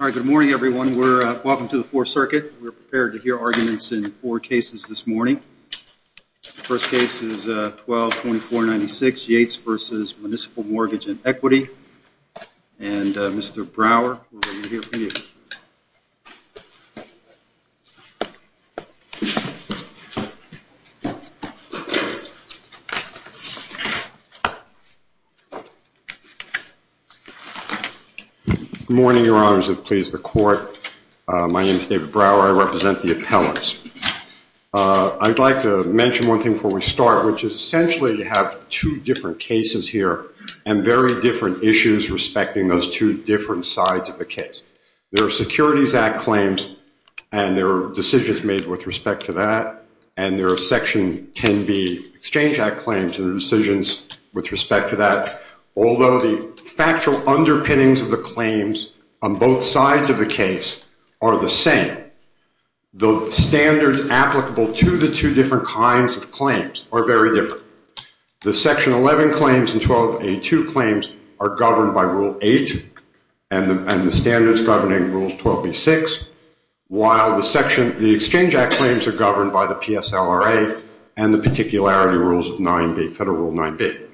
Good morning everyone. Welcome to the Fourth Circuit. We are prepared to hear arguments in four cases this morning. The first case is 12-2496, Yates v. Municipal Mortgage & Equity. And Mr. Brower, we are here for you. Good morning, Your Honors, and please the Court. My name is David Brower. I represent the appellants. I'd like to mention one thing before we start, which is essentially you have two different cases here and very different issues respecting those two different sides of the case. There are Securities Act claims and there are decisions made with respect to that, and there are Section 10b Exchange Act claims and decisions with respect to that, although the factual underpinnings of the claims on both sides of the case are the same. The standards applicable to the two different kinds of claims are very different. The Section 11 claims and 1282 claims are governed by Rule 8 and the standards governing Rule 12b-6, while the Exchange Act claims are governed by the PSLRA and the particularity rules of Federal Rule 9b.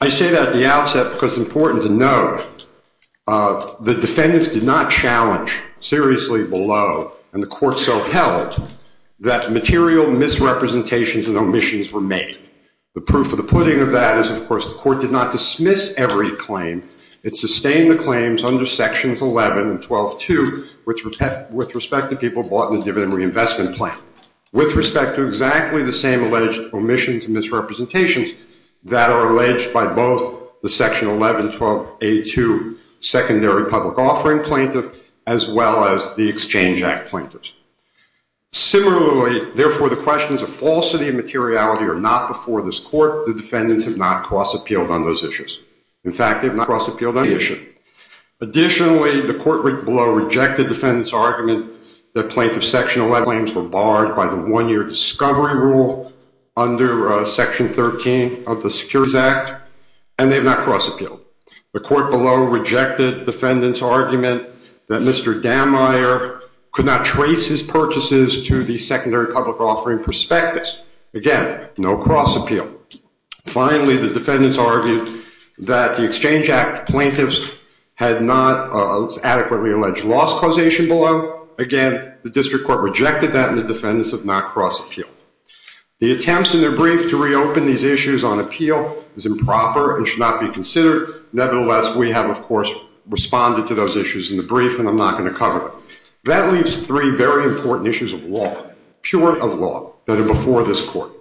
I say that at the outset because it's important to note the defendants did not challenge seriously below, and the Court so held, that material misrepresentations and omissions were made. The proof of the pudding of that is, of course, the Court did not dismiss every claim. It sustained the claims under Sections 11 and 12-2 with respect to people bought in the dividend reinvestment plan. With respect to exactly the same alleged omissions and misrepresentations that are alleged by both the Section 11-12-82 secondary public offering plaintiff, as well as the Exchange Act plaintiffs. Similarly, therefore, the questions of falsity and materiality are not before this Court. The defendants have not cross-appealed on those issues. In fact, they have not cross-appealed on any issue. Additionally, the Court below rejected defendants' argument that plaintiffs' Section 11 claims were barred by the one-year discovery rule under Section 13 of the Securities Act, and they have not cross-appealed. The Court below rejected defendants' argument that Mr. Dammeier could not trace his purchases to the secondary public offering prospectus. Again, no cross-appeal. Finally, the defendants argued that the Exchange Act plaintiffs had not adequately alleged loss causation below. Again, the District Court rejected that, and the defendants have not cross-appealed. The attempts in the brief to reopen these issues on appeal is improper and should not be considered. Nevertheless, we have, of course, responded to those issues in the brief, and I'm not going to cover them. That leaves three very important issues of law, pure of law, that are before this Court.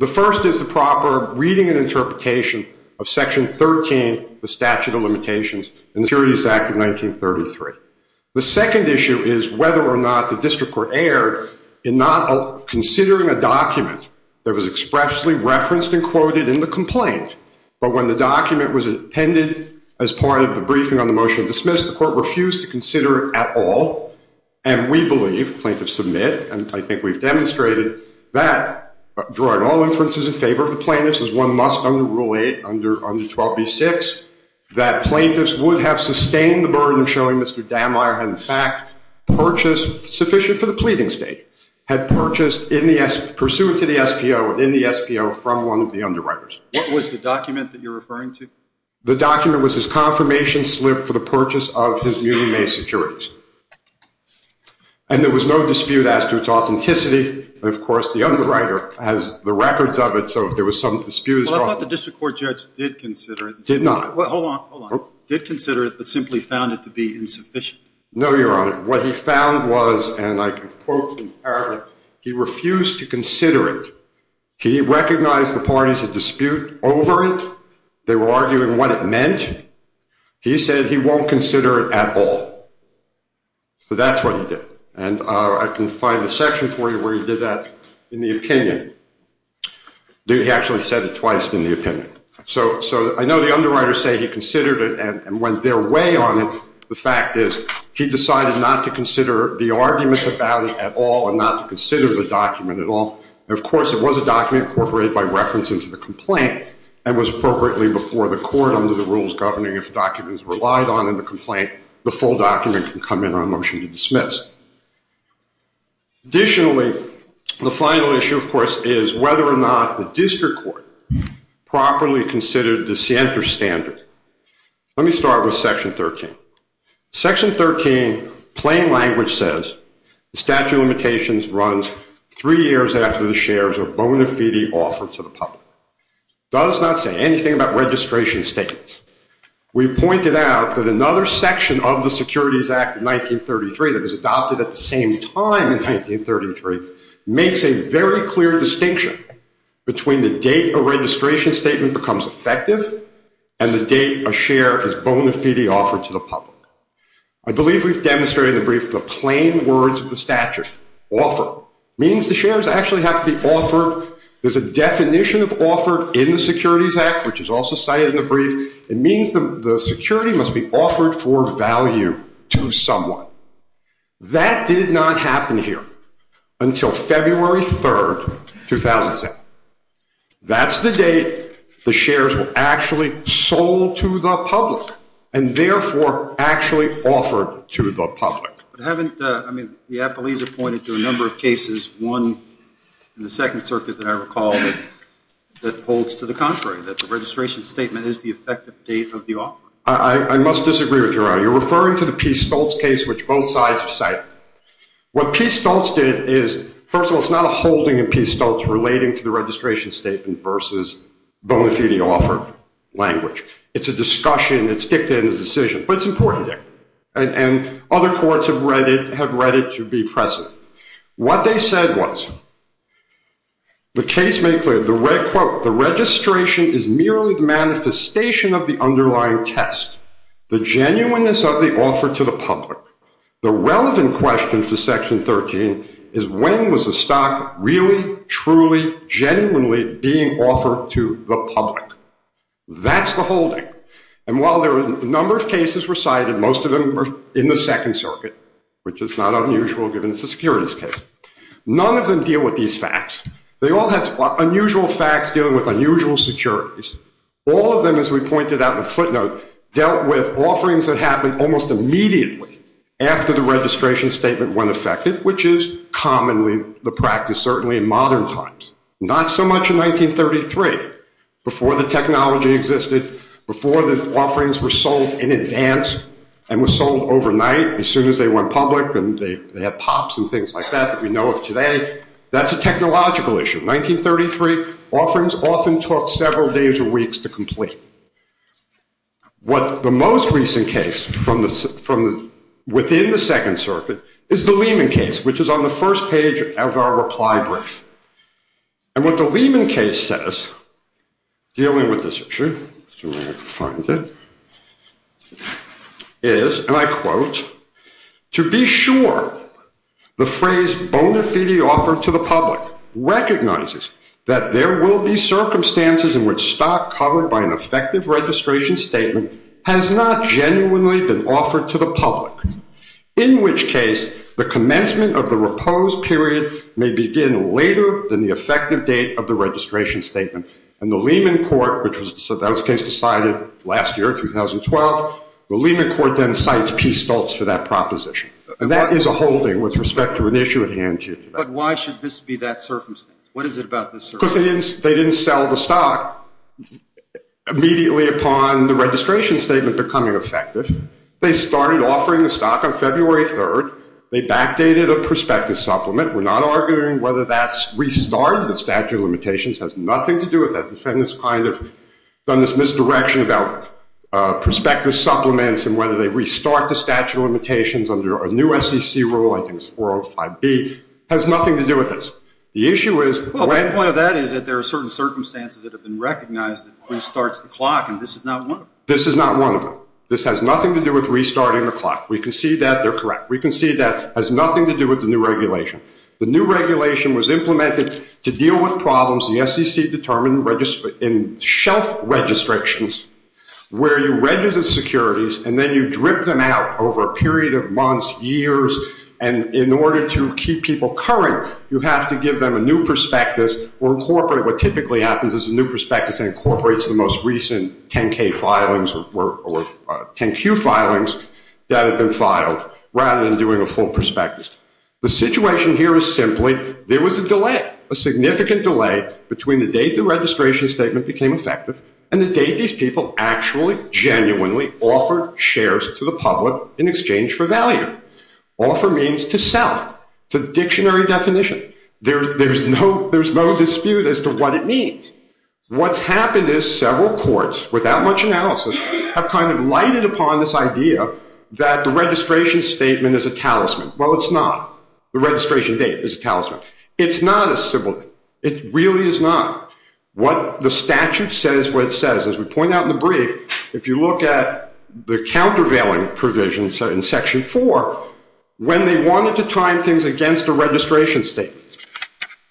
The first is the proper reading and interpretation of Section 13 of the Statute of Limitations in the Securities Act of 1933. The second issue is whether or not the District Court erred in not considering a document that was expressly referenced and quoted in the complaint, but when the document was appended as part of the briefing on the motion to dismiss, the Court refused to consider it at all. And we believe, plaintiffs submit, and I think we've demonstrated that, drawing all inferences in favor of the plaintiffs, as one must under Rule 8, under 12b-6, that plaintiffs would have sustained the burden of showing Mr. Dammeier had in fact purchased, sufficient for the pleading state, had purchased, pursuant to the SPO and in the SPO, from one of the underwriters. What was the document that you're referring to? The document was his confirmation slip for the purchase of his newly made securities. And there was no dispute as to its authenticity. And, of course, the underwriter has the records of it, so if there was some dispute at all. Well, I thought the District Court judge did consider it. Did not. Hold on, hold on. Did consider it, but simply found it to be insufficient. No, Your Honor. What he found was, and I can quote from the paragraph, he refused to consider it. He recognized the parties had dispute over it. They were arguing what it meant. He said he won't consider it at all. So that's what he did. And I can find the section for you where he did that in the opinion. He actually said it twice in the opinion. So I know the underwriters say he considered it and went their way on it. The fact is he decided not to consider the arguments about it at all and not to consider the document at all. And, of course, it was a document incorporated by reference into the complaint and was appropriately before the court under the rules governing if the document is relied on in the complaint, the full document can come in on motion to dismiss. Additionally, the final issue, of course, is whether or not the District Court properly considered the Sienta standard. Let me start with Section 13. Section 13, plain language says, the statute of limitations runs three years after the shares are bona fide offered to the public. It does not say anything about registration statements. We pointed out that another section of the Securities Act of 1933 that was adopted at the same time in 1933 makes a very clear distinction between the date a registration statement becomes effective and the date a share is bona fide offered to the public. I believe we've demonstrated in the brief the plain words of the statute. Offer means the shares actually have to be offered. There's a definition of offered in the Securities Act, which is also cited in the brief. It means the security must be offered for value to someone. That did not happen here until February 3, 2007. That's the date the shares were actually sold to the public and therefore actually offered to the public. But haven't, I mean, the appellees have pointed to a number of cases, one in the Second Circuit that I recall that holds to the contrary, that the registration statement is the effective date of the offer. I must disagree with you. You're referring to the P. Stoltz case, which both sides have cited. What P. Stoltz did is, first of all, it's not a holding in P. Stoltz relating to the registration statement versus bona fide offer language. It's a discussion. It's dictated in the decision, but it's important there. And other courts have read it to be present. What they said was, the case made clear, quote, the registration is merely the manifestation of the underlying test, the genuineness of the offer to the public. The relevant question for Section 13 is, when was the stock really, truly, genuinely being offered to the public? That's the holding. And while there are a number of cases recited, most of them were in the Second Circuit, which is not unusual given it's a securities case. None of them deal with these facts. They all have unusual facts dealing with unusual securities. All of them, as we pointed out in the footnote, dealt with offerings that happened almost immediately after the registration statement went effective, which is commonly the practice, certainly in modern times. Not so much in 1933, before the technology existed, before the offerings were sold in advance and were sold overnight as soon as they went public and they had pops and things like that that we know of today. That's a technological issue. 1933, offerings often took several days or weeks to complete. What the most recent case from within the Second Circuit is the Lehman case, which is on the first page of our reply brief. And what the Lehman case says, dealing with this issue, let's see where I can find it, is, and I quote, To be sure, the phrase bona fide offer to the public recognizes that there will be circumstances in which stock covered by an effective registration statement has not genuinely been offered to the public, in which case the commencement of the repose period may begin later than the effective date of the registration statement. And the Lehman court, which was the case decided last year, 2012, the Lehman court then cites P. Stoltz for that proposition. And that is a holding with respect to an issue at hand here today. But why should this be that circumstance? What is it about this circumstance? Because they didn't sell the stock immediately upon the registration statement becoming effective. They started offering the stock on February 3rd. They backdated a prospective supplement. We're not arguing whether that's restarted. The statute of limitations has nothing to do with that. The defendants kind of have done this misdirection about prospective supplements and whether they restart the statute of limitations under a new SEC rule, I think it's 405B, has nothing to do with this. The issue is... Well, the point of that is that there are certain circumstances that have been recognized that restarts the clock, and this is not one of them. This is not one of them. This has nothing to do with restarting the clock. We can see that they're correct. We can see that it has nothing to do with the new regulation. The new regulation was implemented to deal with problems the SEC determined in shelf registrations where you register securities and then you drip them out over a period of months, years, and in order to keep people current, you have to give them a new prospectus or incorporate what typically happens is a new prospectus incorporates the most recent 10-K filings or 10-Q filings that have been filed The situation here is simply there was a delay, a significant delay between the date the registration statement became effective and the date these people actually, genuinely offered shares to the public in exchange for value. Offer means to sell. It's a dictionary definition. There's no dispute as to what it means. What's happened is several courts, without much analysis, have kind of lighted upon this idea that the registration statement is a talisman. Well, it's not. The registration date is a talisman. It's not a symbol. It really is not. What the statute says is what it says. As we point out in the brief, if you look at the countervailing provisions in Section 4, when they wanted to time things against a registration statement,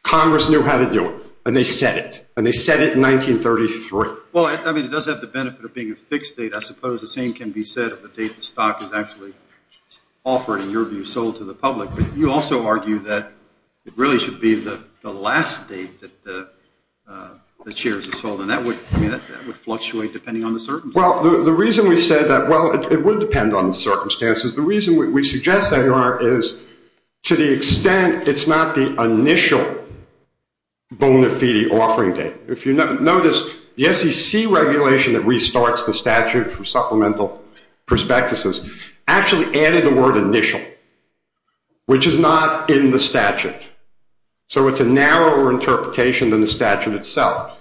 Congress knew how to do it. And they said it. And they said it in 1933. Well, I mean, it does have the benefit of being a fixed date. I suppose the same can be said of the date the stock is actually offered, in your view, sold to the public. You also argue that it really should be the last date that the shares are sold. And that would fluctuate depending on the circumstances. Well, the reason we said that, well, it would depend on the circumstances. The reason we suggest that, Your Honor, is to the extent it's not the initial bona fide offering date. If you notice, the SEC regulation that restarts the statute from supplemental prospectuses actually added the word initial. Which is not in the statute. So it's a narrower interpretation than the statute itself.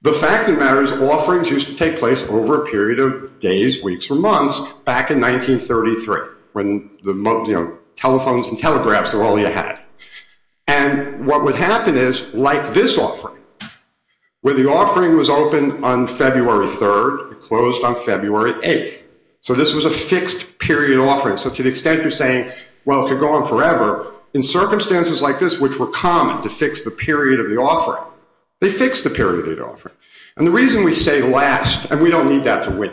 The fact of the matter is offerings used to take place over a period of days, weeks, or months back in 1933, when telephones and telegraphs were all you had. And what would happen is, like this offering, where the offering was open on February 3rd, it closed on February 8th. So this was a fixed period offering. So to the extent you're saying, well, it could go on forever, in circumstances like this, which were common to fix the period of the offering, they fixed the period of the offering. And the reason we say last, and we don't need that to win,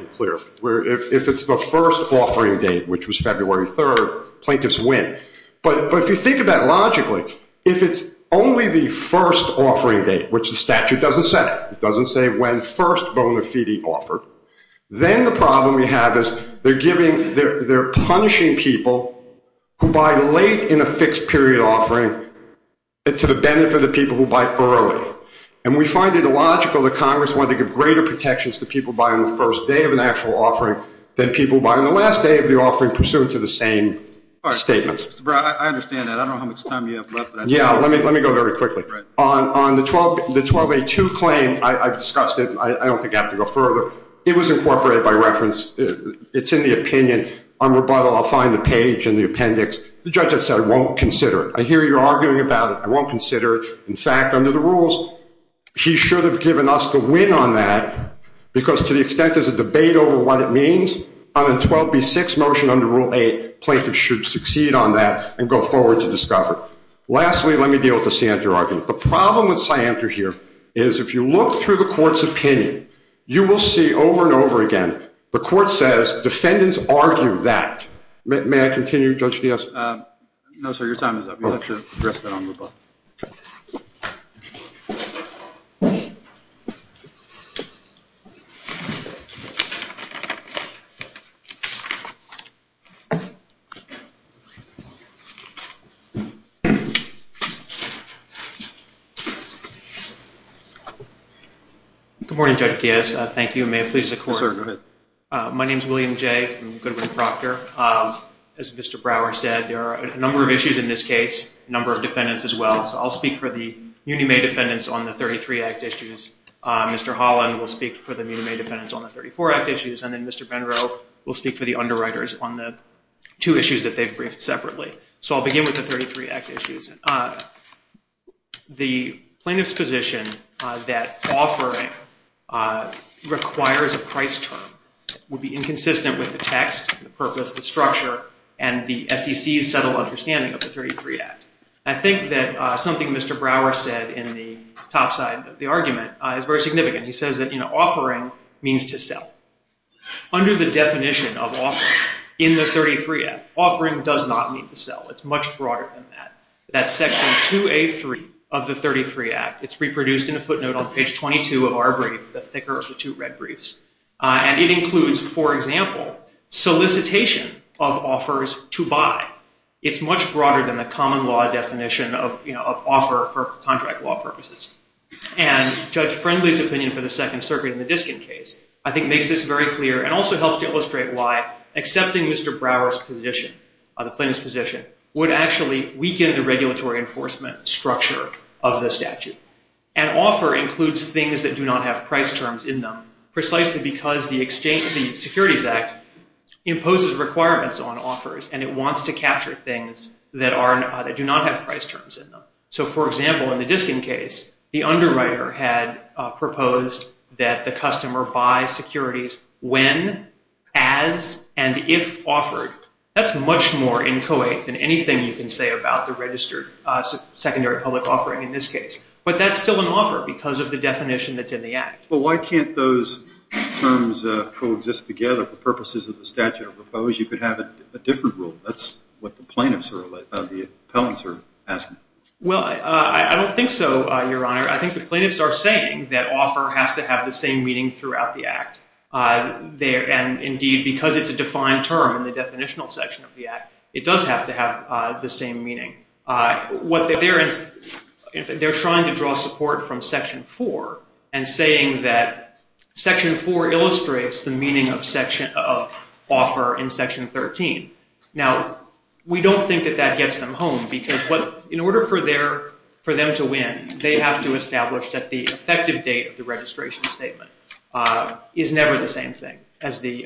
where if it's the first offering date, which was February 3rd, plaintiffs win. But if you think about it logically, if it's only the first offering date, which the statute doesn't say, it doesn't say when first bona fide offered, then the problem we have is they're punishing people who buy late in a fixed period offering to the benefit of people who buy early. And we find it illogical that Congress wanted to give greater protections to people buying the first day of an actual offering than people buying the last day of the offering pursuant to the same statement. All right. Mr. Brown, I understand that. I don't know how much time you have left. Yeah, let me go very quickly. On the 12A2 claim, I've discussed it. I don't think I have to go further. It was incorporated by reference. It's in the opinion. On rebuttal, I'll find the page in the appendix. The judge has said, I won't consider it. I hear you're arguing about it. I won't consider it. In fact, under the rules, he should have given us the win on that, because to the extent there's a debate over what it means, on the 12B6 motion under Rule 8, plaintiffs should succeed on that and go forward to discover. Lastly, let me deal with the Siamter argument. The problem with Siamter here is if you look through the court's opinion, you will see over and over again the court says defendants argue that. May I continue, Judge Dias? No, sir. Your time is up. You'll have to address that on rebuttal. Good morning, Judge Dias. Thank you. May it please the court. Yes, sir. Go ahead. My name is William Jay from Goodwin Proctor. As Mr. Brower said, there are a number of issues in this case, a number of defendants as well. So I'll speak for the Muni-May defendants on the 33 Act issues. Mr. Holland will speak for the Muni-May defendants on the 34 Act issues, and then Mr. Benro will speak for the underwriters on the two issues that they've briefed separately. So I'll begin with the 33 Act issues. The plaintiff's position that offering requires a price term would be inconsistent with the text, the purpose, the structure, and the SEC's settled understanding of the 33 Act. I think that something Mr. Brower said in the top side of the argument is very significant. He says that offering means to sell. Under the definition of offering in the 33 Act, offering does not mean to sell. It's much broader than that. That's Section 2A.3 of the 33 Act. It's reproduced in a footnote on page 22 of our brief, the thicker of the two red briefs. And it includes, for example, solicitation of offers to buy. It's much broader than the common law definition of offer for contract law purposes. And Judge Friendly's opinion for the Second Circuit in the Diskin case I think makes this very clear and also helps to illustrate why accepting Mr. Brower's argument would weaken the regulatory enforcement structure of the statute. An offer includes things that do not have price terms in them, precisely because the Securities Act imposes requirements on offers, and it wants to capture things that do not have price terms in them. So, for example, in the Diskin case, the underwriter had proposed that the customer buy securities when, as, and if offered. That's much more inchoate than anything you can say about the registered secondary public offering in this case. But that's still an offer because of the definition that's in the Act. Well, why can't those terms coexist together for purposes of the statute of oppose? You could have a different rule. That's what the plaintiffs or the appellants are asking. Well, I don't think so, Your Honor. I think the plaintiffs are saying that offer has to have the same meaning throughout the Act. And, indeed, because it's a defined term in the definitional section of the Act, it does have to have the same meaning. They're trying to draw support from Section 4 and saying that Section 4 illustrates the meaning of offer in Section 13. Now, we don't think that that gets them home because in order for them to win, they have to establish that the effective date of the registration statement is never the same thing as the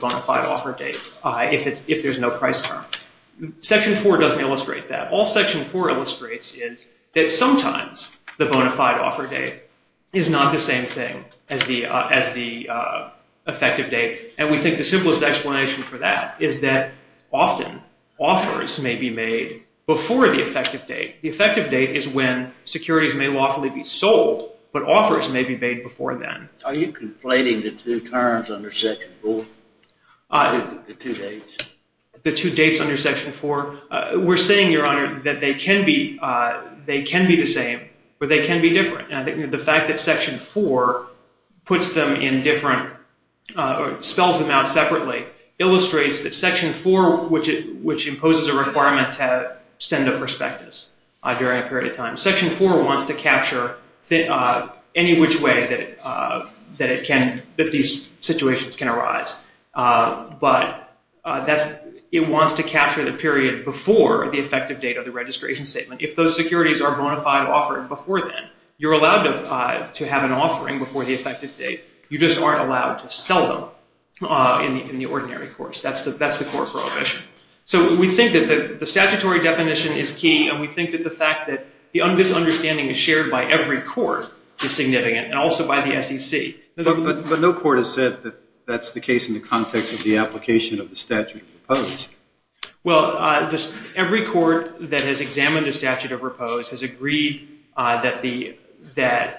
bona fide offer date if there's no price term. Section 4 doesn't illustrate that. All Section 4 illustrates is that sometimes the bona fide offer date is not the same thing as the effective date. And we think the simplest explanation for that is that often offers may be made before the effective date. The effective date is when securities may lawfully be sold, but offers may be made before then. Are you conflating the two terms under Section 4, the two dates? The two dates under Section 4? We're saying, Your Honor, that they can be the same or they can be different. And I think the fact that Section 4 puts them in different, spells them out separately, illustrates that Section 4, which imposes a requirement to send a prospectus during a period of time, Section 4 wants to capture any which way that it can, that these situations can arise. But it wants to capture the period before the effective date of the registration statement. If those securities are bona fide offered before then, you're allowed to have an offering before the effective date. You just aren't allowed to sell them in the ordinary course. That's the core prohibition. So we think that the statutory definition is key, and we think that the fact that this understanding is shared by every court is significant, and also by the SEC. But no court has said that that's the case in the context of the application of the statute of repose. Well, every court that has examined the statute of repose has agreed that,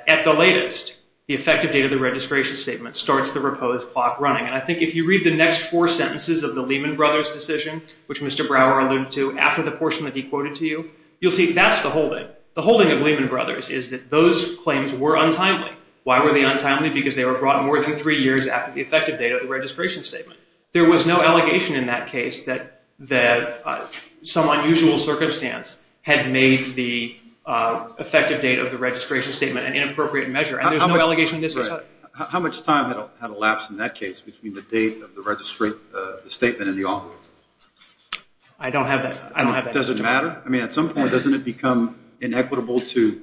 at the latest, the effective date of the registration statement starts the repose clock running. And I think if you read the next four sentences of the Lehman Brothers decision, which Mr. Brower alluded to, after the portion that he quoted to you, you'll see that's the holding. The holding of Lehman Brothers is that those claims were untimely. Why were they untimely? Because they were brought more than three years after the effective date of the registration statement. There was no allegation in that case that some unusual circumstance had made the effective date of the registration statement an inappropriate measure. And there's no allegation in this case. Right. How much time had elapsed in that case between the date of the statement and the offer? I don't have that. Does it matter? I mean, at some point, doesn't it become inequitable to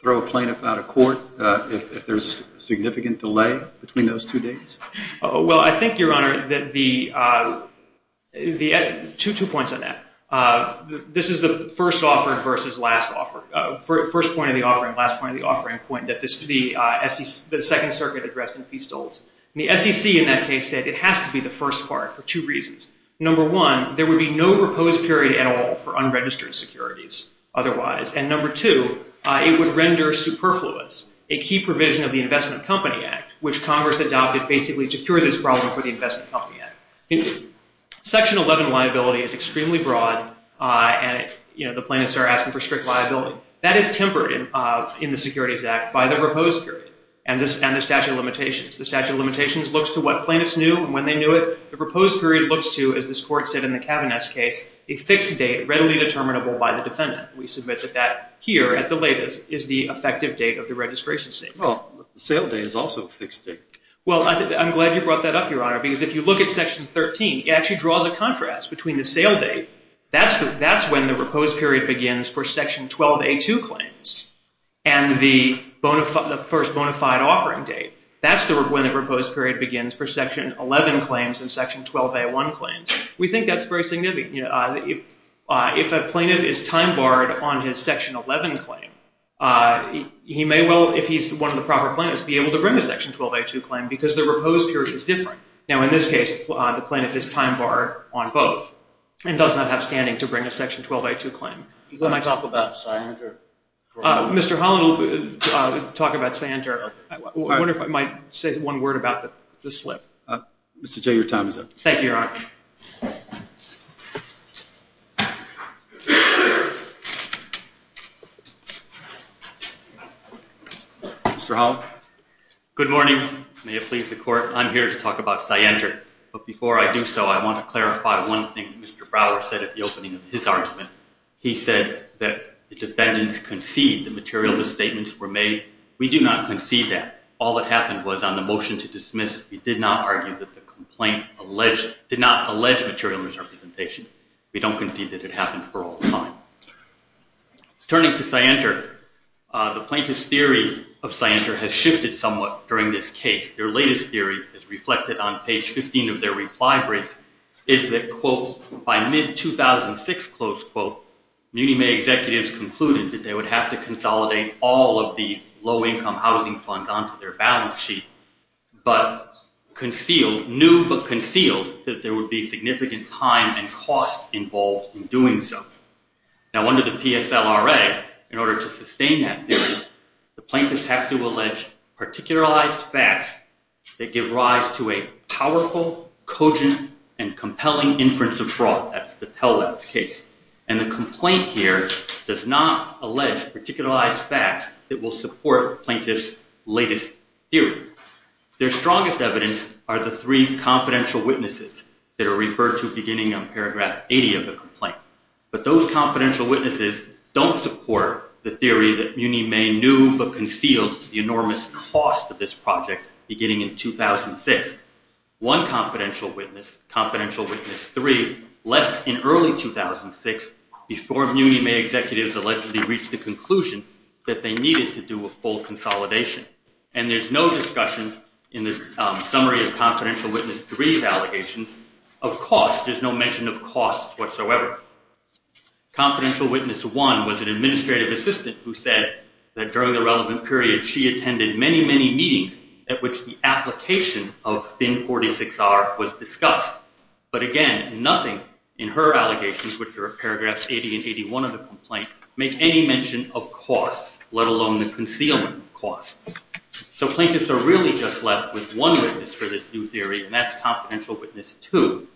throw a plaintiff out of court if there's a significant delay between those two dates? Well, I think, Your Honor, that the – two points on that. This is the first offering versus last offering. First point of the offering, last point of the offering, the point that the Second Circuit addressed in P. Stoltz. The SEC in that case said it has to be the first part for two reasons. Number one, there would be no proposed period at all for unregistered securities otherwise. And number two, it would render superfluous a key provision of the Investment Company Act, which Congress adopted basically to cure this problem for the Investment Company Act. Section 11 liability is extremely broad, and, you know, the plaintiffs are asking for strict liability. That is tempered in the Securities Act by the proposed period and the statute of limitations. The statute of limitations looks to what plaintiffs knew and when they knew it. The proposed period looks to, as this Court said in the Kavanaugh case, a fixed date readily determinable by the defendant. We submit that that here at the latest is the effective date of the registration statement. Well, the sale date is also a fixed date. Well, I'm glad you brought that up, Your Honor, because if you look at Section 13, it actually draws a contrast between the sale date. That's when the proposed period begins for Section 12A2 claims and the first bona fide offering date. That's when the proposed period begins for Section 11 claims and Section 12A1 claims. We think that's very significant. You know, if a plaintiff is time barred on his Section 11 claim, he may well, if he's one of the proper plaintiffs, be able to bring a Section 12A2 claim because the proposed period is different. Now, in this case, the plaintiff is time barred on both and does not have standing to bring a Section 12A2 claim. You want to talk about Sanger? Mr. Holland will talk about Sanger. I wonder if I might say one word about the slip. Mr. J., your time is up. Thank you, Your Honor. Mr. Holland? Good morning. May it please the Court, I'm here to talk about Sanger. But before I do so, I want to clarify one thing Mr. Brower said at the opening of his argument. He said that the defendants concede the material the statements were made. We do not concede that. All that happened was on the motion to dismiss, we did not argue that the complaint did not allege material misrepresentation. We don't concede that it happened for all time. Turning to Sanger, the plaintiff's theory of Sanger has shifted somewhat during this case. Their latest theory is reflected on page 15 of their reply brief, is that, quote, by mid-2006, close quote, Munime executives concluded that they would have to consolidate all of these low-income housing funds onto their balance sheet, but concealed, knew but concealed, that there would be significant time and costs involved in doing so. Now under the PSLRA, in order to sustain that theory, the plaintiffs have to allege particularized facts that give rise to a powerful, cogent, and compelling inference of fraud. That's the tell-all case. And the complaint here does not allege particularized facts that will support plaintiffs' latest theory. Their strongest evidence are the three confidential witnesses that are referred to beginning on paragraph 80 of the complaint. But those confidential witnesses don't support the theory that Munime knew but concealed the enormous cost of this project beginning in 2006. One confidential witness, confidential witness three, left in early 2006 before Munime executives allegedly reached the conclusion that they needed to do a full consolidation. And there's no discussion in the summary of confidential witness three's allegations of cost. There's no mention of cost whatsoever. Confidential witness one was an administrative assistant who said that during the relevant period she attended many, many meetings at which the application of BIN 46-R was discussed. But again, nothing in her allegations, which are paragraphs 80 and 81 of the complaint, make any mention of cost, let alone the concealment cost. So plaintiffs are really just left with one witness for this new theory, and that's confidential witness two.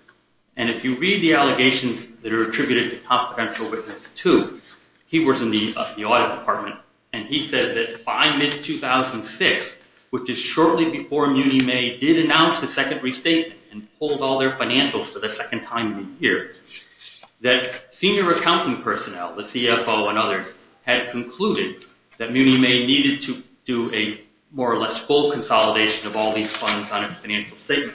And if you read the allegations that are attributed to confidential witness two, he was in the audit department, and he says that by mid-2006, which is shortly before Munime did announce the second restatement and pulled all their financials for the second time in a year, that senior accounting personnel, the CFO and others, had concluded that Munime needed to do a more or less full consolidation of all these funds on a financial statement.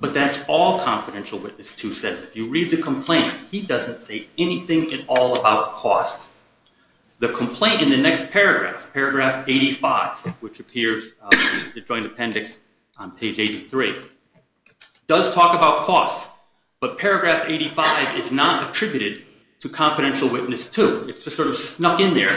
But that's all confidential witness two says. If you read the complaint, he doesn't say anything at all about cost. The complaint in the next paragraph, paragraph 85, which appears in the joint appendix on page 83, does talk about cost. But paragraph 85 is not attributed to confidential witness two. It's just sort of snuck in there.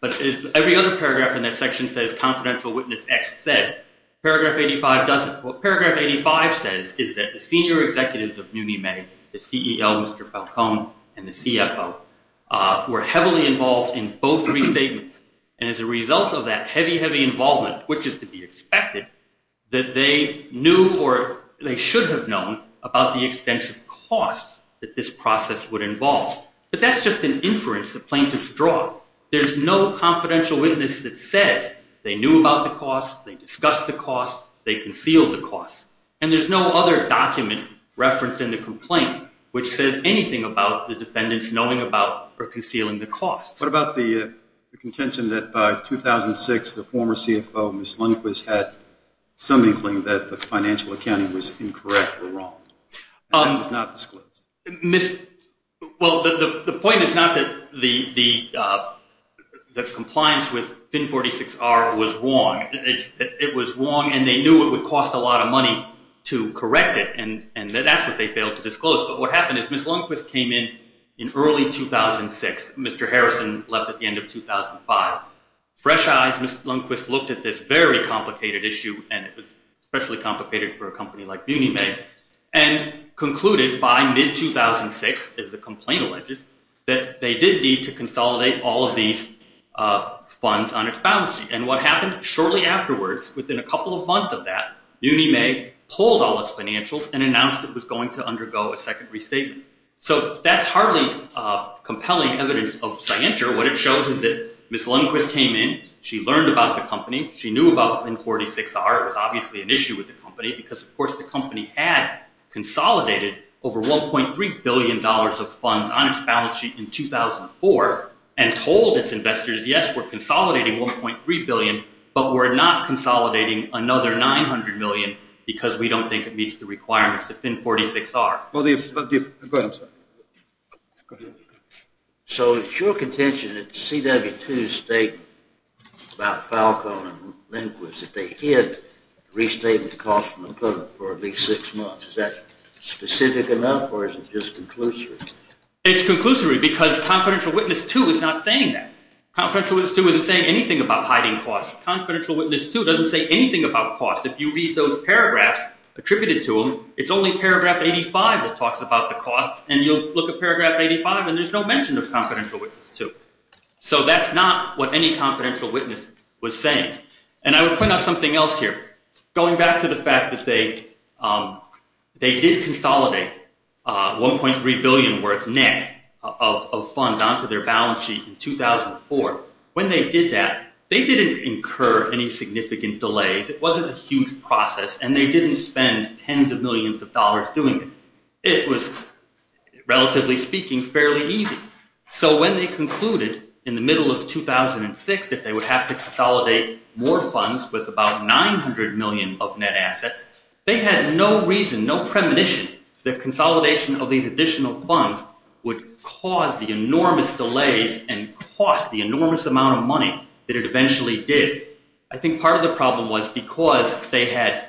But every other paragraph in that section says confidential witness X said. Paragraph 85 doesn't. What paragraph 85 says is that the senior executives of Munime, the CEL, Mr. Falcone, and the CFO, were heavily involved in both restatements. And as a result of that heavy, heavy involvement, which is to be expected, that they knew or they should have known about the extensive costs that this process would involve. But that's just an inference the plaintiffs draw. There's no confidential witness that says they knew about the cost, they discussed the cost, they concealed the cost. And there's no other document referenced in the complaint which says anything about the defendants knowing about or concealing the cost. What about the contention that by 2006, the former CFO, Ms. Lundquist, had some inkling that the financial accounting was incorrect or wrong? That was not disclosed. Well, the point is not that the compliance with FIN 46-R was wrong. It was wrong and they knew it would cost a lot of money, to correct it, and that's what they failed to disclose. But what happened is Ms. Lundquist came in in early 2006, Mr. Harrison left at the end of 2005. Fresh eyes, Ms. Lundquist looked at this very complicated issue, and it was especially complicated for a company like Munime, and concluded by mid-2006, as the complaint alleges, that they did need to consolidate all of these funds on its balance sheet. And what happened shortly afterwards, within a couple of months of that, Munime pulled all its financials, and announced it was going to undergo a second restatement. So that's hardly compelling evidence of scienter. What it shows is that Ms. Lundquist came in, she learned about the company, she knew about FIN 46-R, it was obviously an issue with the company, because of course the company had consolidated over $1.3 billion of funds on its balance sheet in 2004, and told its investors, yes, we're consolidating $1.3 billion, but we're not consolidating another $900 million, because we don't think it meets the requirements of FIN 46-R. Go ahead, I'm sorry. So it's your contention that CW2's statement about Falcone and Lundquist, that they hid restatement costs from the public for at least six months, is that specific enough, or is it just conclusory? It's conclusory, because Confidential Witness 2 is not saying that. Confidential Witness 2 isn't saying anything about hiding costs. Confidential Witness 2 doesn't say anything about costs. If you read those paragraphs attributed to them, it's only paragraph 85 that talks about the costs, and you'll look at paragraph 85 and there's no mention of Confidential Witness 2. So that's not what any Confidential Witness was saying. And I would point out something else here. Going back to the fact that they did consolidate $1.3 billion worth net of funds onto their balance sheet in 2004, when they did that, they didn't incur any significant delays. It wasn't a huge process, and they didn't spend tens of millions of dollars doing it. It was, relatively speaking, fairly easy. So when they concluded in the middle of 2006 that they would have to consolidate more funds with about $900 million of net assets, they had no reason, no premonition that consolidation of these additional funds would cause the enormous delays and cost the enormous amount of money that it eventually did. I think part of the problem was because they had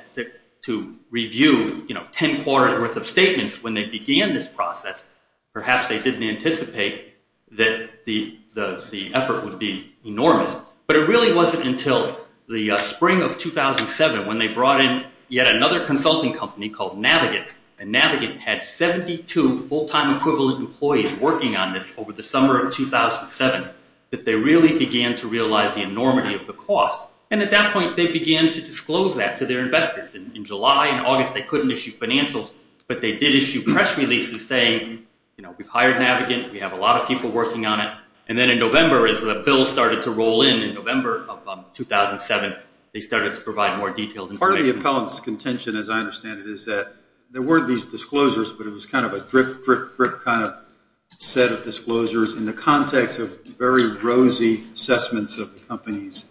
to review ten quarters worth of statements when they began this process, perhaps they didn't anticipate that the effort would be enormous. But it really wasn't until the spring of 2007, when they brought in yet another consulting company called Navigant. And Navigant had 72 full-time equivalent employees working on this over the summer of 2007 that they really began to realize the enormity of the cost. And at that point, they began to disclose that to their investors. In July and August, they couldn't issue financials, but they did issue press releases saying, you know, we've hired Navigant, we have a lot of people working on it. And then in November, as the bill started to roll in, in November of 2007, they started to provide more detailed information. Part of the appellant's contention, as I understand it, is that there were these disclosures, but it was kind of a drip, drip, drip kind of set of disclosures in the context of very rosy assessments of the company's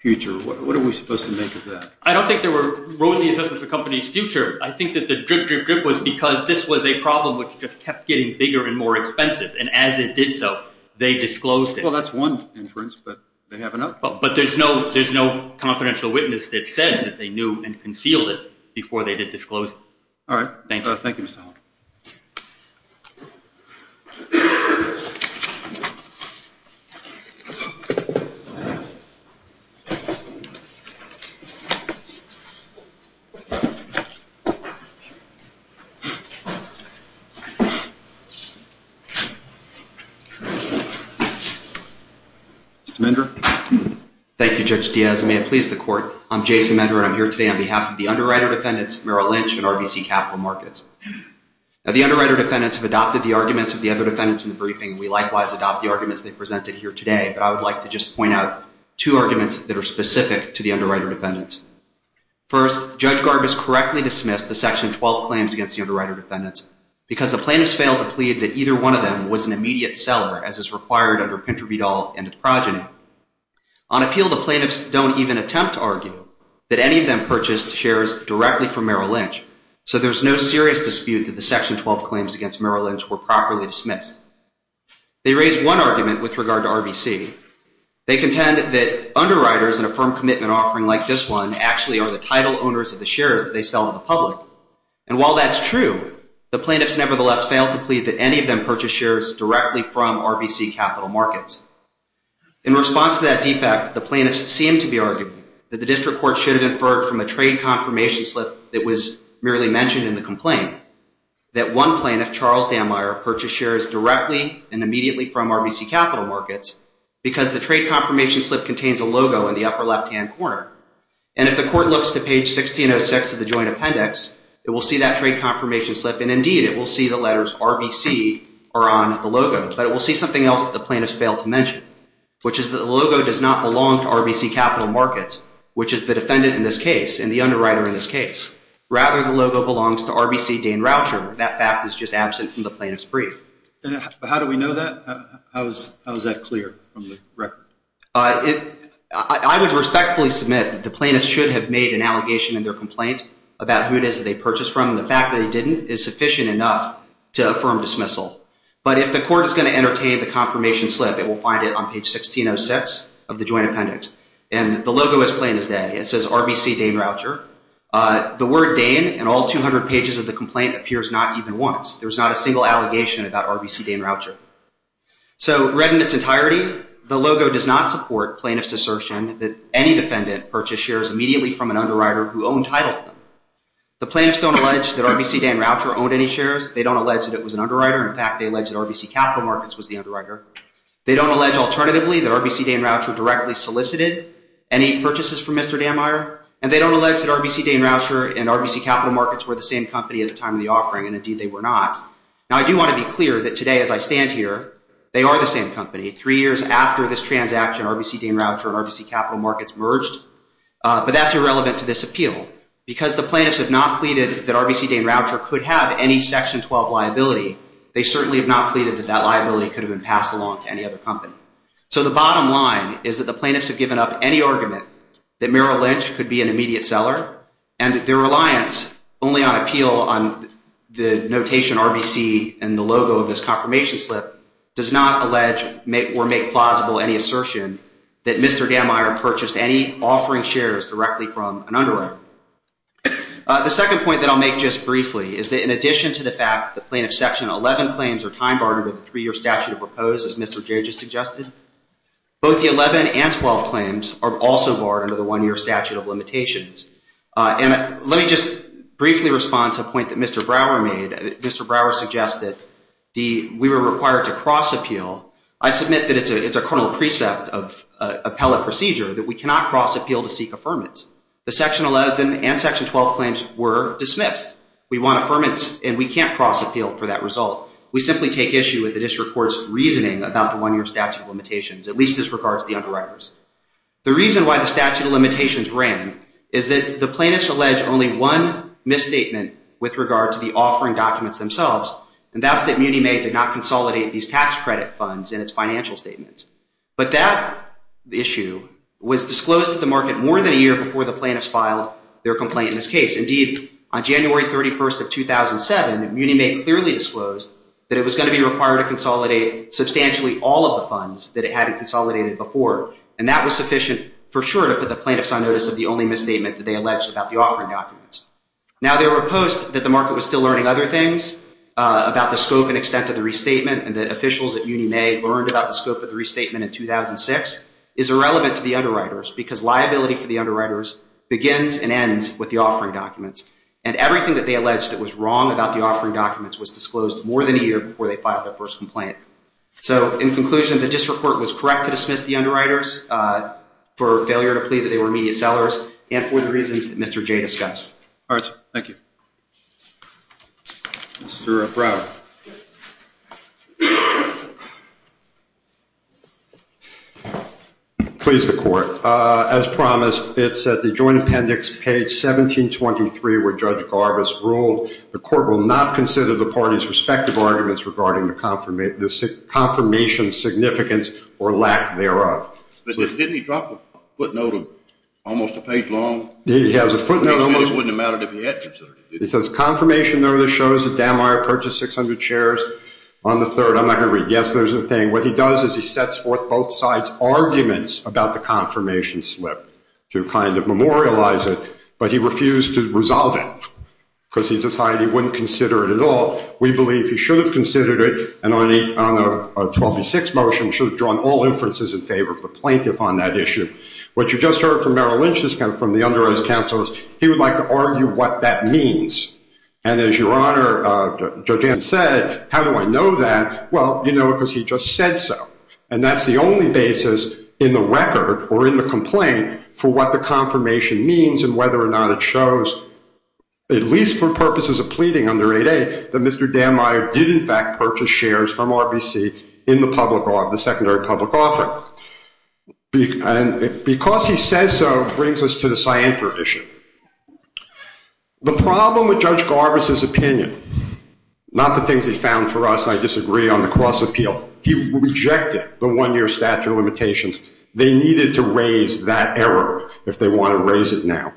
future. What are we supposed to make of that? I don't think there were rosy assessments of the company's future. I think that the drip, drip, drip was because this was a problem which just kept getting bigger and more expensive. And as it did so, they disclosed it. Well, that's one inference, but they have another one. But there's no confidential witness that says that they knew and concealed it before they did disclose it. All right. Thank you. Thank you, Mr. Holland. Mr. Mender? Thank you, Judge Diaz. May it please the court, I'm Jason Mender, and I'm here today on behalf of the underwriter defendants Merrill Lynch and RBC Capital Markets. Now, the underwriter defendants have adopted the arguments of the other defendants in the briefing. We likewise adopt the arguments they presented here today, but I would like to just point out two arguments that are specific to the underwriter defendants. First, Judge Garb has correctly dismissed the Section 12 claims against the underwriter defendants because the plaintiffs failed to plead that either one of them was an immediate seller, as is required under Pinter v. Dahl and its progeny. On appeal, the plaintiffs don't even attempt to argue that any of them purchased shares directly from Merrill Lynch, so there's no serious dispute that the Section 12 claims against Merrill Lynch were properly dismissed. They raise one argument with regard to RBC. They contend that underwriters in a firm commitment offering like this one actually are the title owners of the shares that they sell to the public. And while that's true, the plaintiffs nevertheless failed to plead that any of them purchased shares directly from RBC Capital Markets. In response to that defect, the plaintiffs seem to be arguing that the district court should have inferred from a trade confirmation slip that was merely mentioned in the complaint that one plaintiff, Charles Dammeier, purchased shares directly and immediately from RBC Capital Markets because the trade confirmation slip contains a logo in the upper left-hand corner. And if the court looks to page 1606 of the joint appendix, it will see that trade confirmation slip, and indeed it will see the letters RBC are on the logo, but it will see something else that the plaintiffs failed to mention, which is that the logo does not belong to RBC Capital Markets, which is the defendant in this case and the underwriter in this case. Rather, the logo belongs to RBC Dan Roucher. That fact is just absent from the plaintiff's brief. But how do we know that? How is that clear from the record? I would respectfully submit that the plaintiffs should have made an allegation in their complaint about who it is that they purchased from. The fact that they didn't is sufficient enough to affirm dismissal. But if the court is going to entertain the confirmation slip, it will find it on page 1606 of the joint appendix. And the logo is plain as day. It says RBC Dan Roucher. The word Dan in all 200 pages of the complaint appears not even once. There's not a single allegation about RBC Dan Roucher. So read in its entirety, the logo does not support plaintiffs' assertion that any defendant purchased shares immediately from an underwriter who owned title to them. They don't allege that it was an underwriter. In fact, they allege that RBC Capital Markets was the underwriter. They don't allege alternatively that RBC Dan Roucher directly solicited any purchases from Mr. Dammeier. And they don't allege that RBC Dan Roucher and RBC Capital Markets were the same company at the time of the offering, and indeed they were not. Now, I do want to be clear that today as I stand here, they are the same company. Three years after this transaction, RBC Dan Roucher and RBC Capital Markets merged. But that's irrelevant to this appeal. Because the plaintiffs have not pleaded that RBC Dan Roucher could have any Section 12 liability, they certainly have not pleaded that that liability could have been passed along to any other company. So the bottom line is that the plaintiffs have given up any argument that Merrill Lynch could be an immediate seller, and their reliance only on appeal on the notation RBC and the logo of this confirmation slip does not allege or make plausible any assertion that Mr. Dammeier purchased any offering shares directly from an underwriter. The second point that I'll make just briefly is that in addition to the fact that plaintiffs' Section 11 claims are time-barred under the three-year statute of repose, as Mr. Gage has suggested, both the 11 and 12 claims are also barred under the one-year statute of limitations. And let me just briefly respond to a point that Mr. Brower made. Mr. Brower suggested we were required to cross-appeal. I submit that it's a criminal precept of appellate procedure that we cannot cross-appeal to seek affirmance. The Section 11 and Section 12 claims were dismissed. We want affirmance, and we can't cross-appeal for that result. We simply take issue with the district court's reasoning about the one-year statute of limitations, at least as regards to the underwriters. The reason why the statute of limitations rang is that the plaintiffs allege only one misstatement with regard to the offering documents themselves, and that's that Muni May did not consolidate these tax credit funds in its financial statements. But that issue was disclosed to the market more than a year before the plaintiffs filed their complaint in this case. Indeed, on January 31st of 2007, Muni May clearly disclosed that it was going to be required to consolidate substantially all of the funds that it hadn't consolidated before, and that was sufficient for sure to put the plaintiffs on notice of the only misstatement that they alleged about the offering documents. Now, there were posts that the market was still learning other things about the scope and extent of the restatement, and that officials at Muni May learned about the scope of the restatement in 2006 is irrelevant to the underwriters because liability for the underwriters begins and ends with the offering documents, and everything that they alleged that was wrong about the offering documents was disclosed more than a year before they filed their first complaint. So in conclusion, the district court was correct to dismiss the underwriters for failure to plead that they were immediate sellers and for the reasons that Mr. Jay discussed. All right, sir. Thank you. Mr. Brown. Please, the court. As promised, it's at the joint appendix, page 1723, where Judge Garbus ruled, the court will not consider the parties' respective arguments regarding the confirmation's significance or lack thereof. But didn't he drop a footnote almost a page long? He has a footnote. It wouldn't have mattered if he had considered it. It says, confirmation notice shows that Dan Meyer purchased 600 shares on the 3rd. I'm not going to read it. Yes, there's a thing. What he does is he sets forth both sides' arguments about the confirmation slip to kind of memorialize it, but he refused to resolve it because he decided he wouldn't consider it at all. We believe he should have considered it, and on a 12 v. 6 motion, should have drawn all inferences in favor of the plaintiff on that issue. What you just heard from Merrill Lynch, from the underwriters' counsel, is he would like to argue what that means. And as Your Honor, Judge Anderson said, how do I know that? Well, you know it because he just said so. And that's the only basis in the record or in the complaint for what the confirmation means and whether or not it shows, at least for purposes of pleading under 8A, that Mr. Dan Meyer did, in fact, purchase shares from RBC in the secondary public offer. And because he says so, it brings us to the scienter issue. The problem with Judge Garbus' opinion, not the things he found for us, and I disagree on the cross-appeal, he rejected the one-year statute of limitations. They needed to raise that error if they want to raise it now,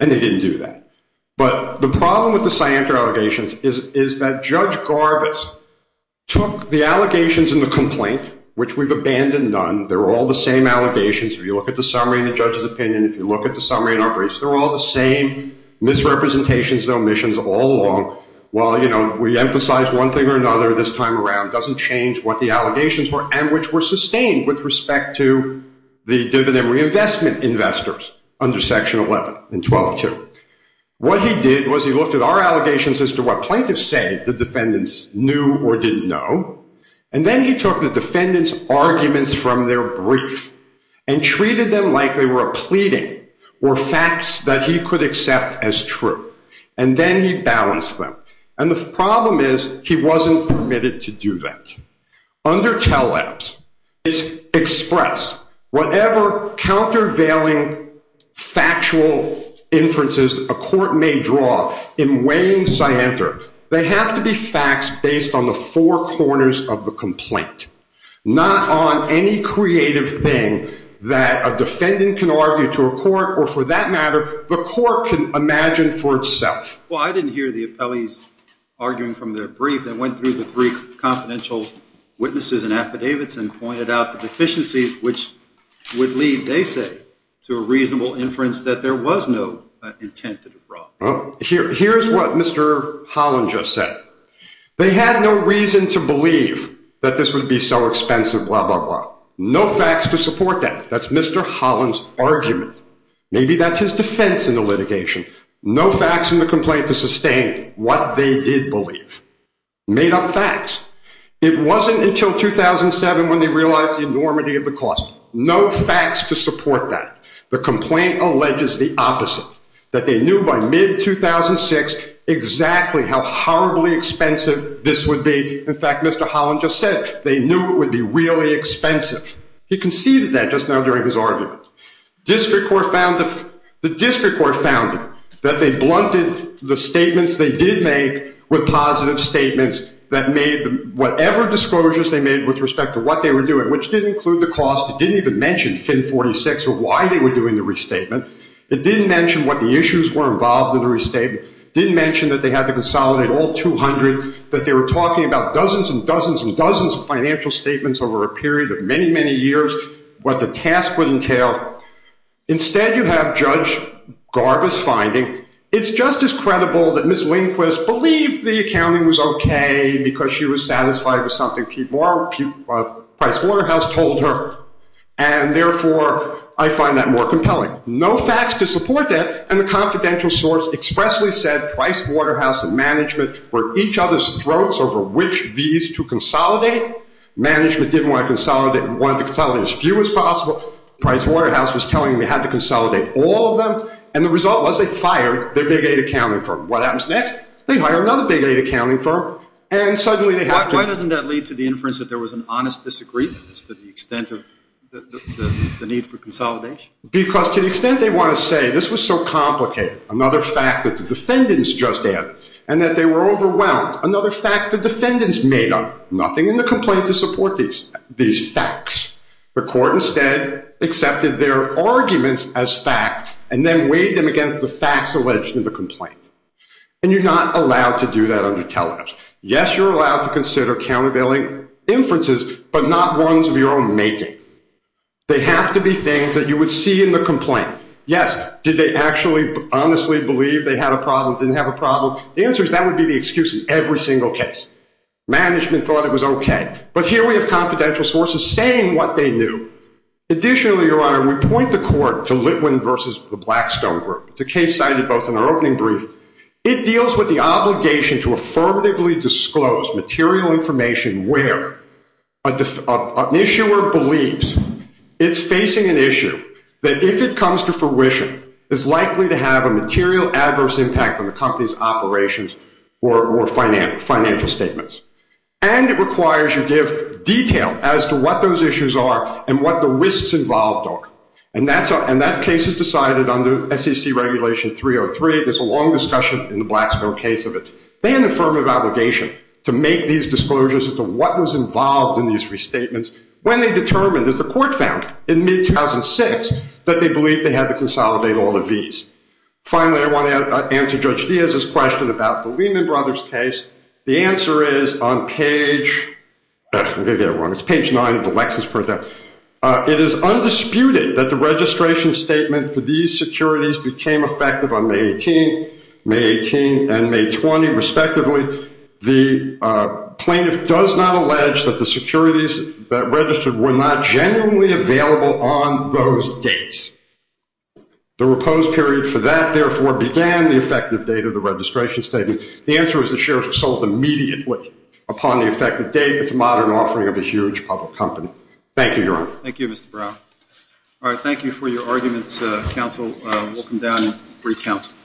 and they didn't do that. But the problem with the scienter allegations is that Judge Garbus took the allegations in the complaint, which we've abandoned none, they're all the same allegations. If you look at the summary in the judge's opinion, if you look at the summary in our briefs, they're all the same misrepresentations and omissions all along. While, you know, we emphasize one thing or another this time around, it doesn't change what the allegations were and which were sustained with respect to the dividend reinvestment investors under Section 11 and 12-2. What he did was he looked at our allegations as to what plaintiffs say the defendants knew or didn't know, and then he took the defendants' arguments from their brief and treated them like they were a pleading or facts that he could accept as true. And then he balanced them. And the problem is he wasn't permitted to do that. Under TELEBS, it's expressed. Whatever countervailing factual inferences a court may draw in weighing scienter, they have to be facts based on the four corners of the complaint, not on any creative thing that a defendant can argue to a court or, for that matter, the court can imagine for itself. Well, I didn't hear the appellees arguing from their brief. They went through the three confidential witnesses and affidavits and pointed out the deficiencies, which would lead, they say, to a reasonable inference that there was no intent to draw. Well, here's what Mr. Holland just said. They had no reason to believe that this would be so expensive, blah, blah, blah. No facts to support that. That's Mr. Holland's argument. Maybe that's his defense in the litigation. No facts in the complaint to sustain what they did believe. Made-up facts. It wasn't until 2007 when they realized the enormity of the cost. No facts to support that. The complaint alleges the opposite, that they knew by mid-2006 exactly how horribly expensive this would be. In fact, Mr. Holland just said they knew it would be really expensive. He conceded that just now during his argument. The district court found that they blunted the statements they did make with positive statements that made whatever disclosures they made with respect to what they were doing, which didn't include the cost. It didn't even mention FIN 46 or why they were doing the restatement. It didn't mention what the issues were involved in the restatement. It didn't mention that they had to consolidate all 200, that they were talking about dozens and dozens and dozens of financial statements over a period of many, many years, what the task would entail. Instead, you have Judge Garvis finding, it's just as credible that Ms. Lindquist believed the accounting was okay because she was satisfied with something Price Waterhouse told her. And therefore, I find that more compelling. No facts to support that. And the confidential source expressly said Price Waterhouse and management were at each other's throats over which of these to consolidate. Management didn't want to consolidate and wanted to consolidate as few as possible. Price Waterhouse was telling them they had to consolidate all of them. And the result was they fired their big eight accounting firm. What happens next? They hire another big eight accounting firm, and suddenly they have to— Why doesn't that lead to the inference that there was an honest disagreement as to the extent of the need for consolidation? Because to the extent they want to say this was so complicated, another fact that the defendants just added, and that they were overwhelmed, another fact the defendants made up. Nothing in the complaint to support these facts. The court instead accepted their arguments as fact and then weighed them against the facts alleged in the complaint. And you're not allowed to do that under telehealth. Yes, you're allowed to consider countervailing inferences, but not ones of your own making. They have to be things that you would see in the complaint. The answer is that would be the excuse in every single case. Management thought it was okay. But here we have confidential sources saying what they knew. Additionally, Your Honor, we point the court to Litwin v. Blackstone Group. It's a case cited both in our opening brief. It deals with the obligation to affirmatively disclose material information where an issuer believes it's facing an issue that, if it comes to fruition, is likely to have a material adverse impact on the company's operations or financial statements. And it requires you give detail as to what those issues are and what the risks involved are. And that case is decided under SEC Regulation 303. There's a long discussion in the Blackstone case of it. They have an affirmative obligation to make these disclosures as to what was involved in these restatements when they determined, as the court found in mid-2006, that they believed they had to consolidate all the Vs. Finally, I want to answer Judge Diaz's question about the Lehman Brothers case. The answer is on page 9 of the Lexis printout, it is undisputed that the registration statement for these securities became effective on May 18th, May 18th, and May 20th, respectively. The plaintiff does not allege that the securities that registered were not genuinely available on those dates. The repose period for that, therefore, began the effective date of the registration statement. The answer is the shares were sold immediately upon the effective date. It's a modern offering of a huge public company. Thank you, Your Honor. Thank you, Mr. Brough. All right, thank you for your arguments, counsel. We'll come down and brief counsel.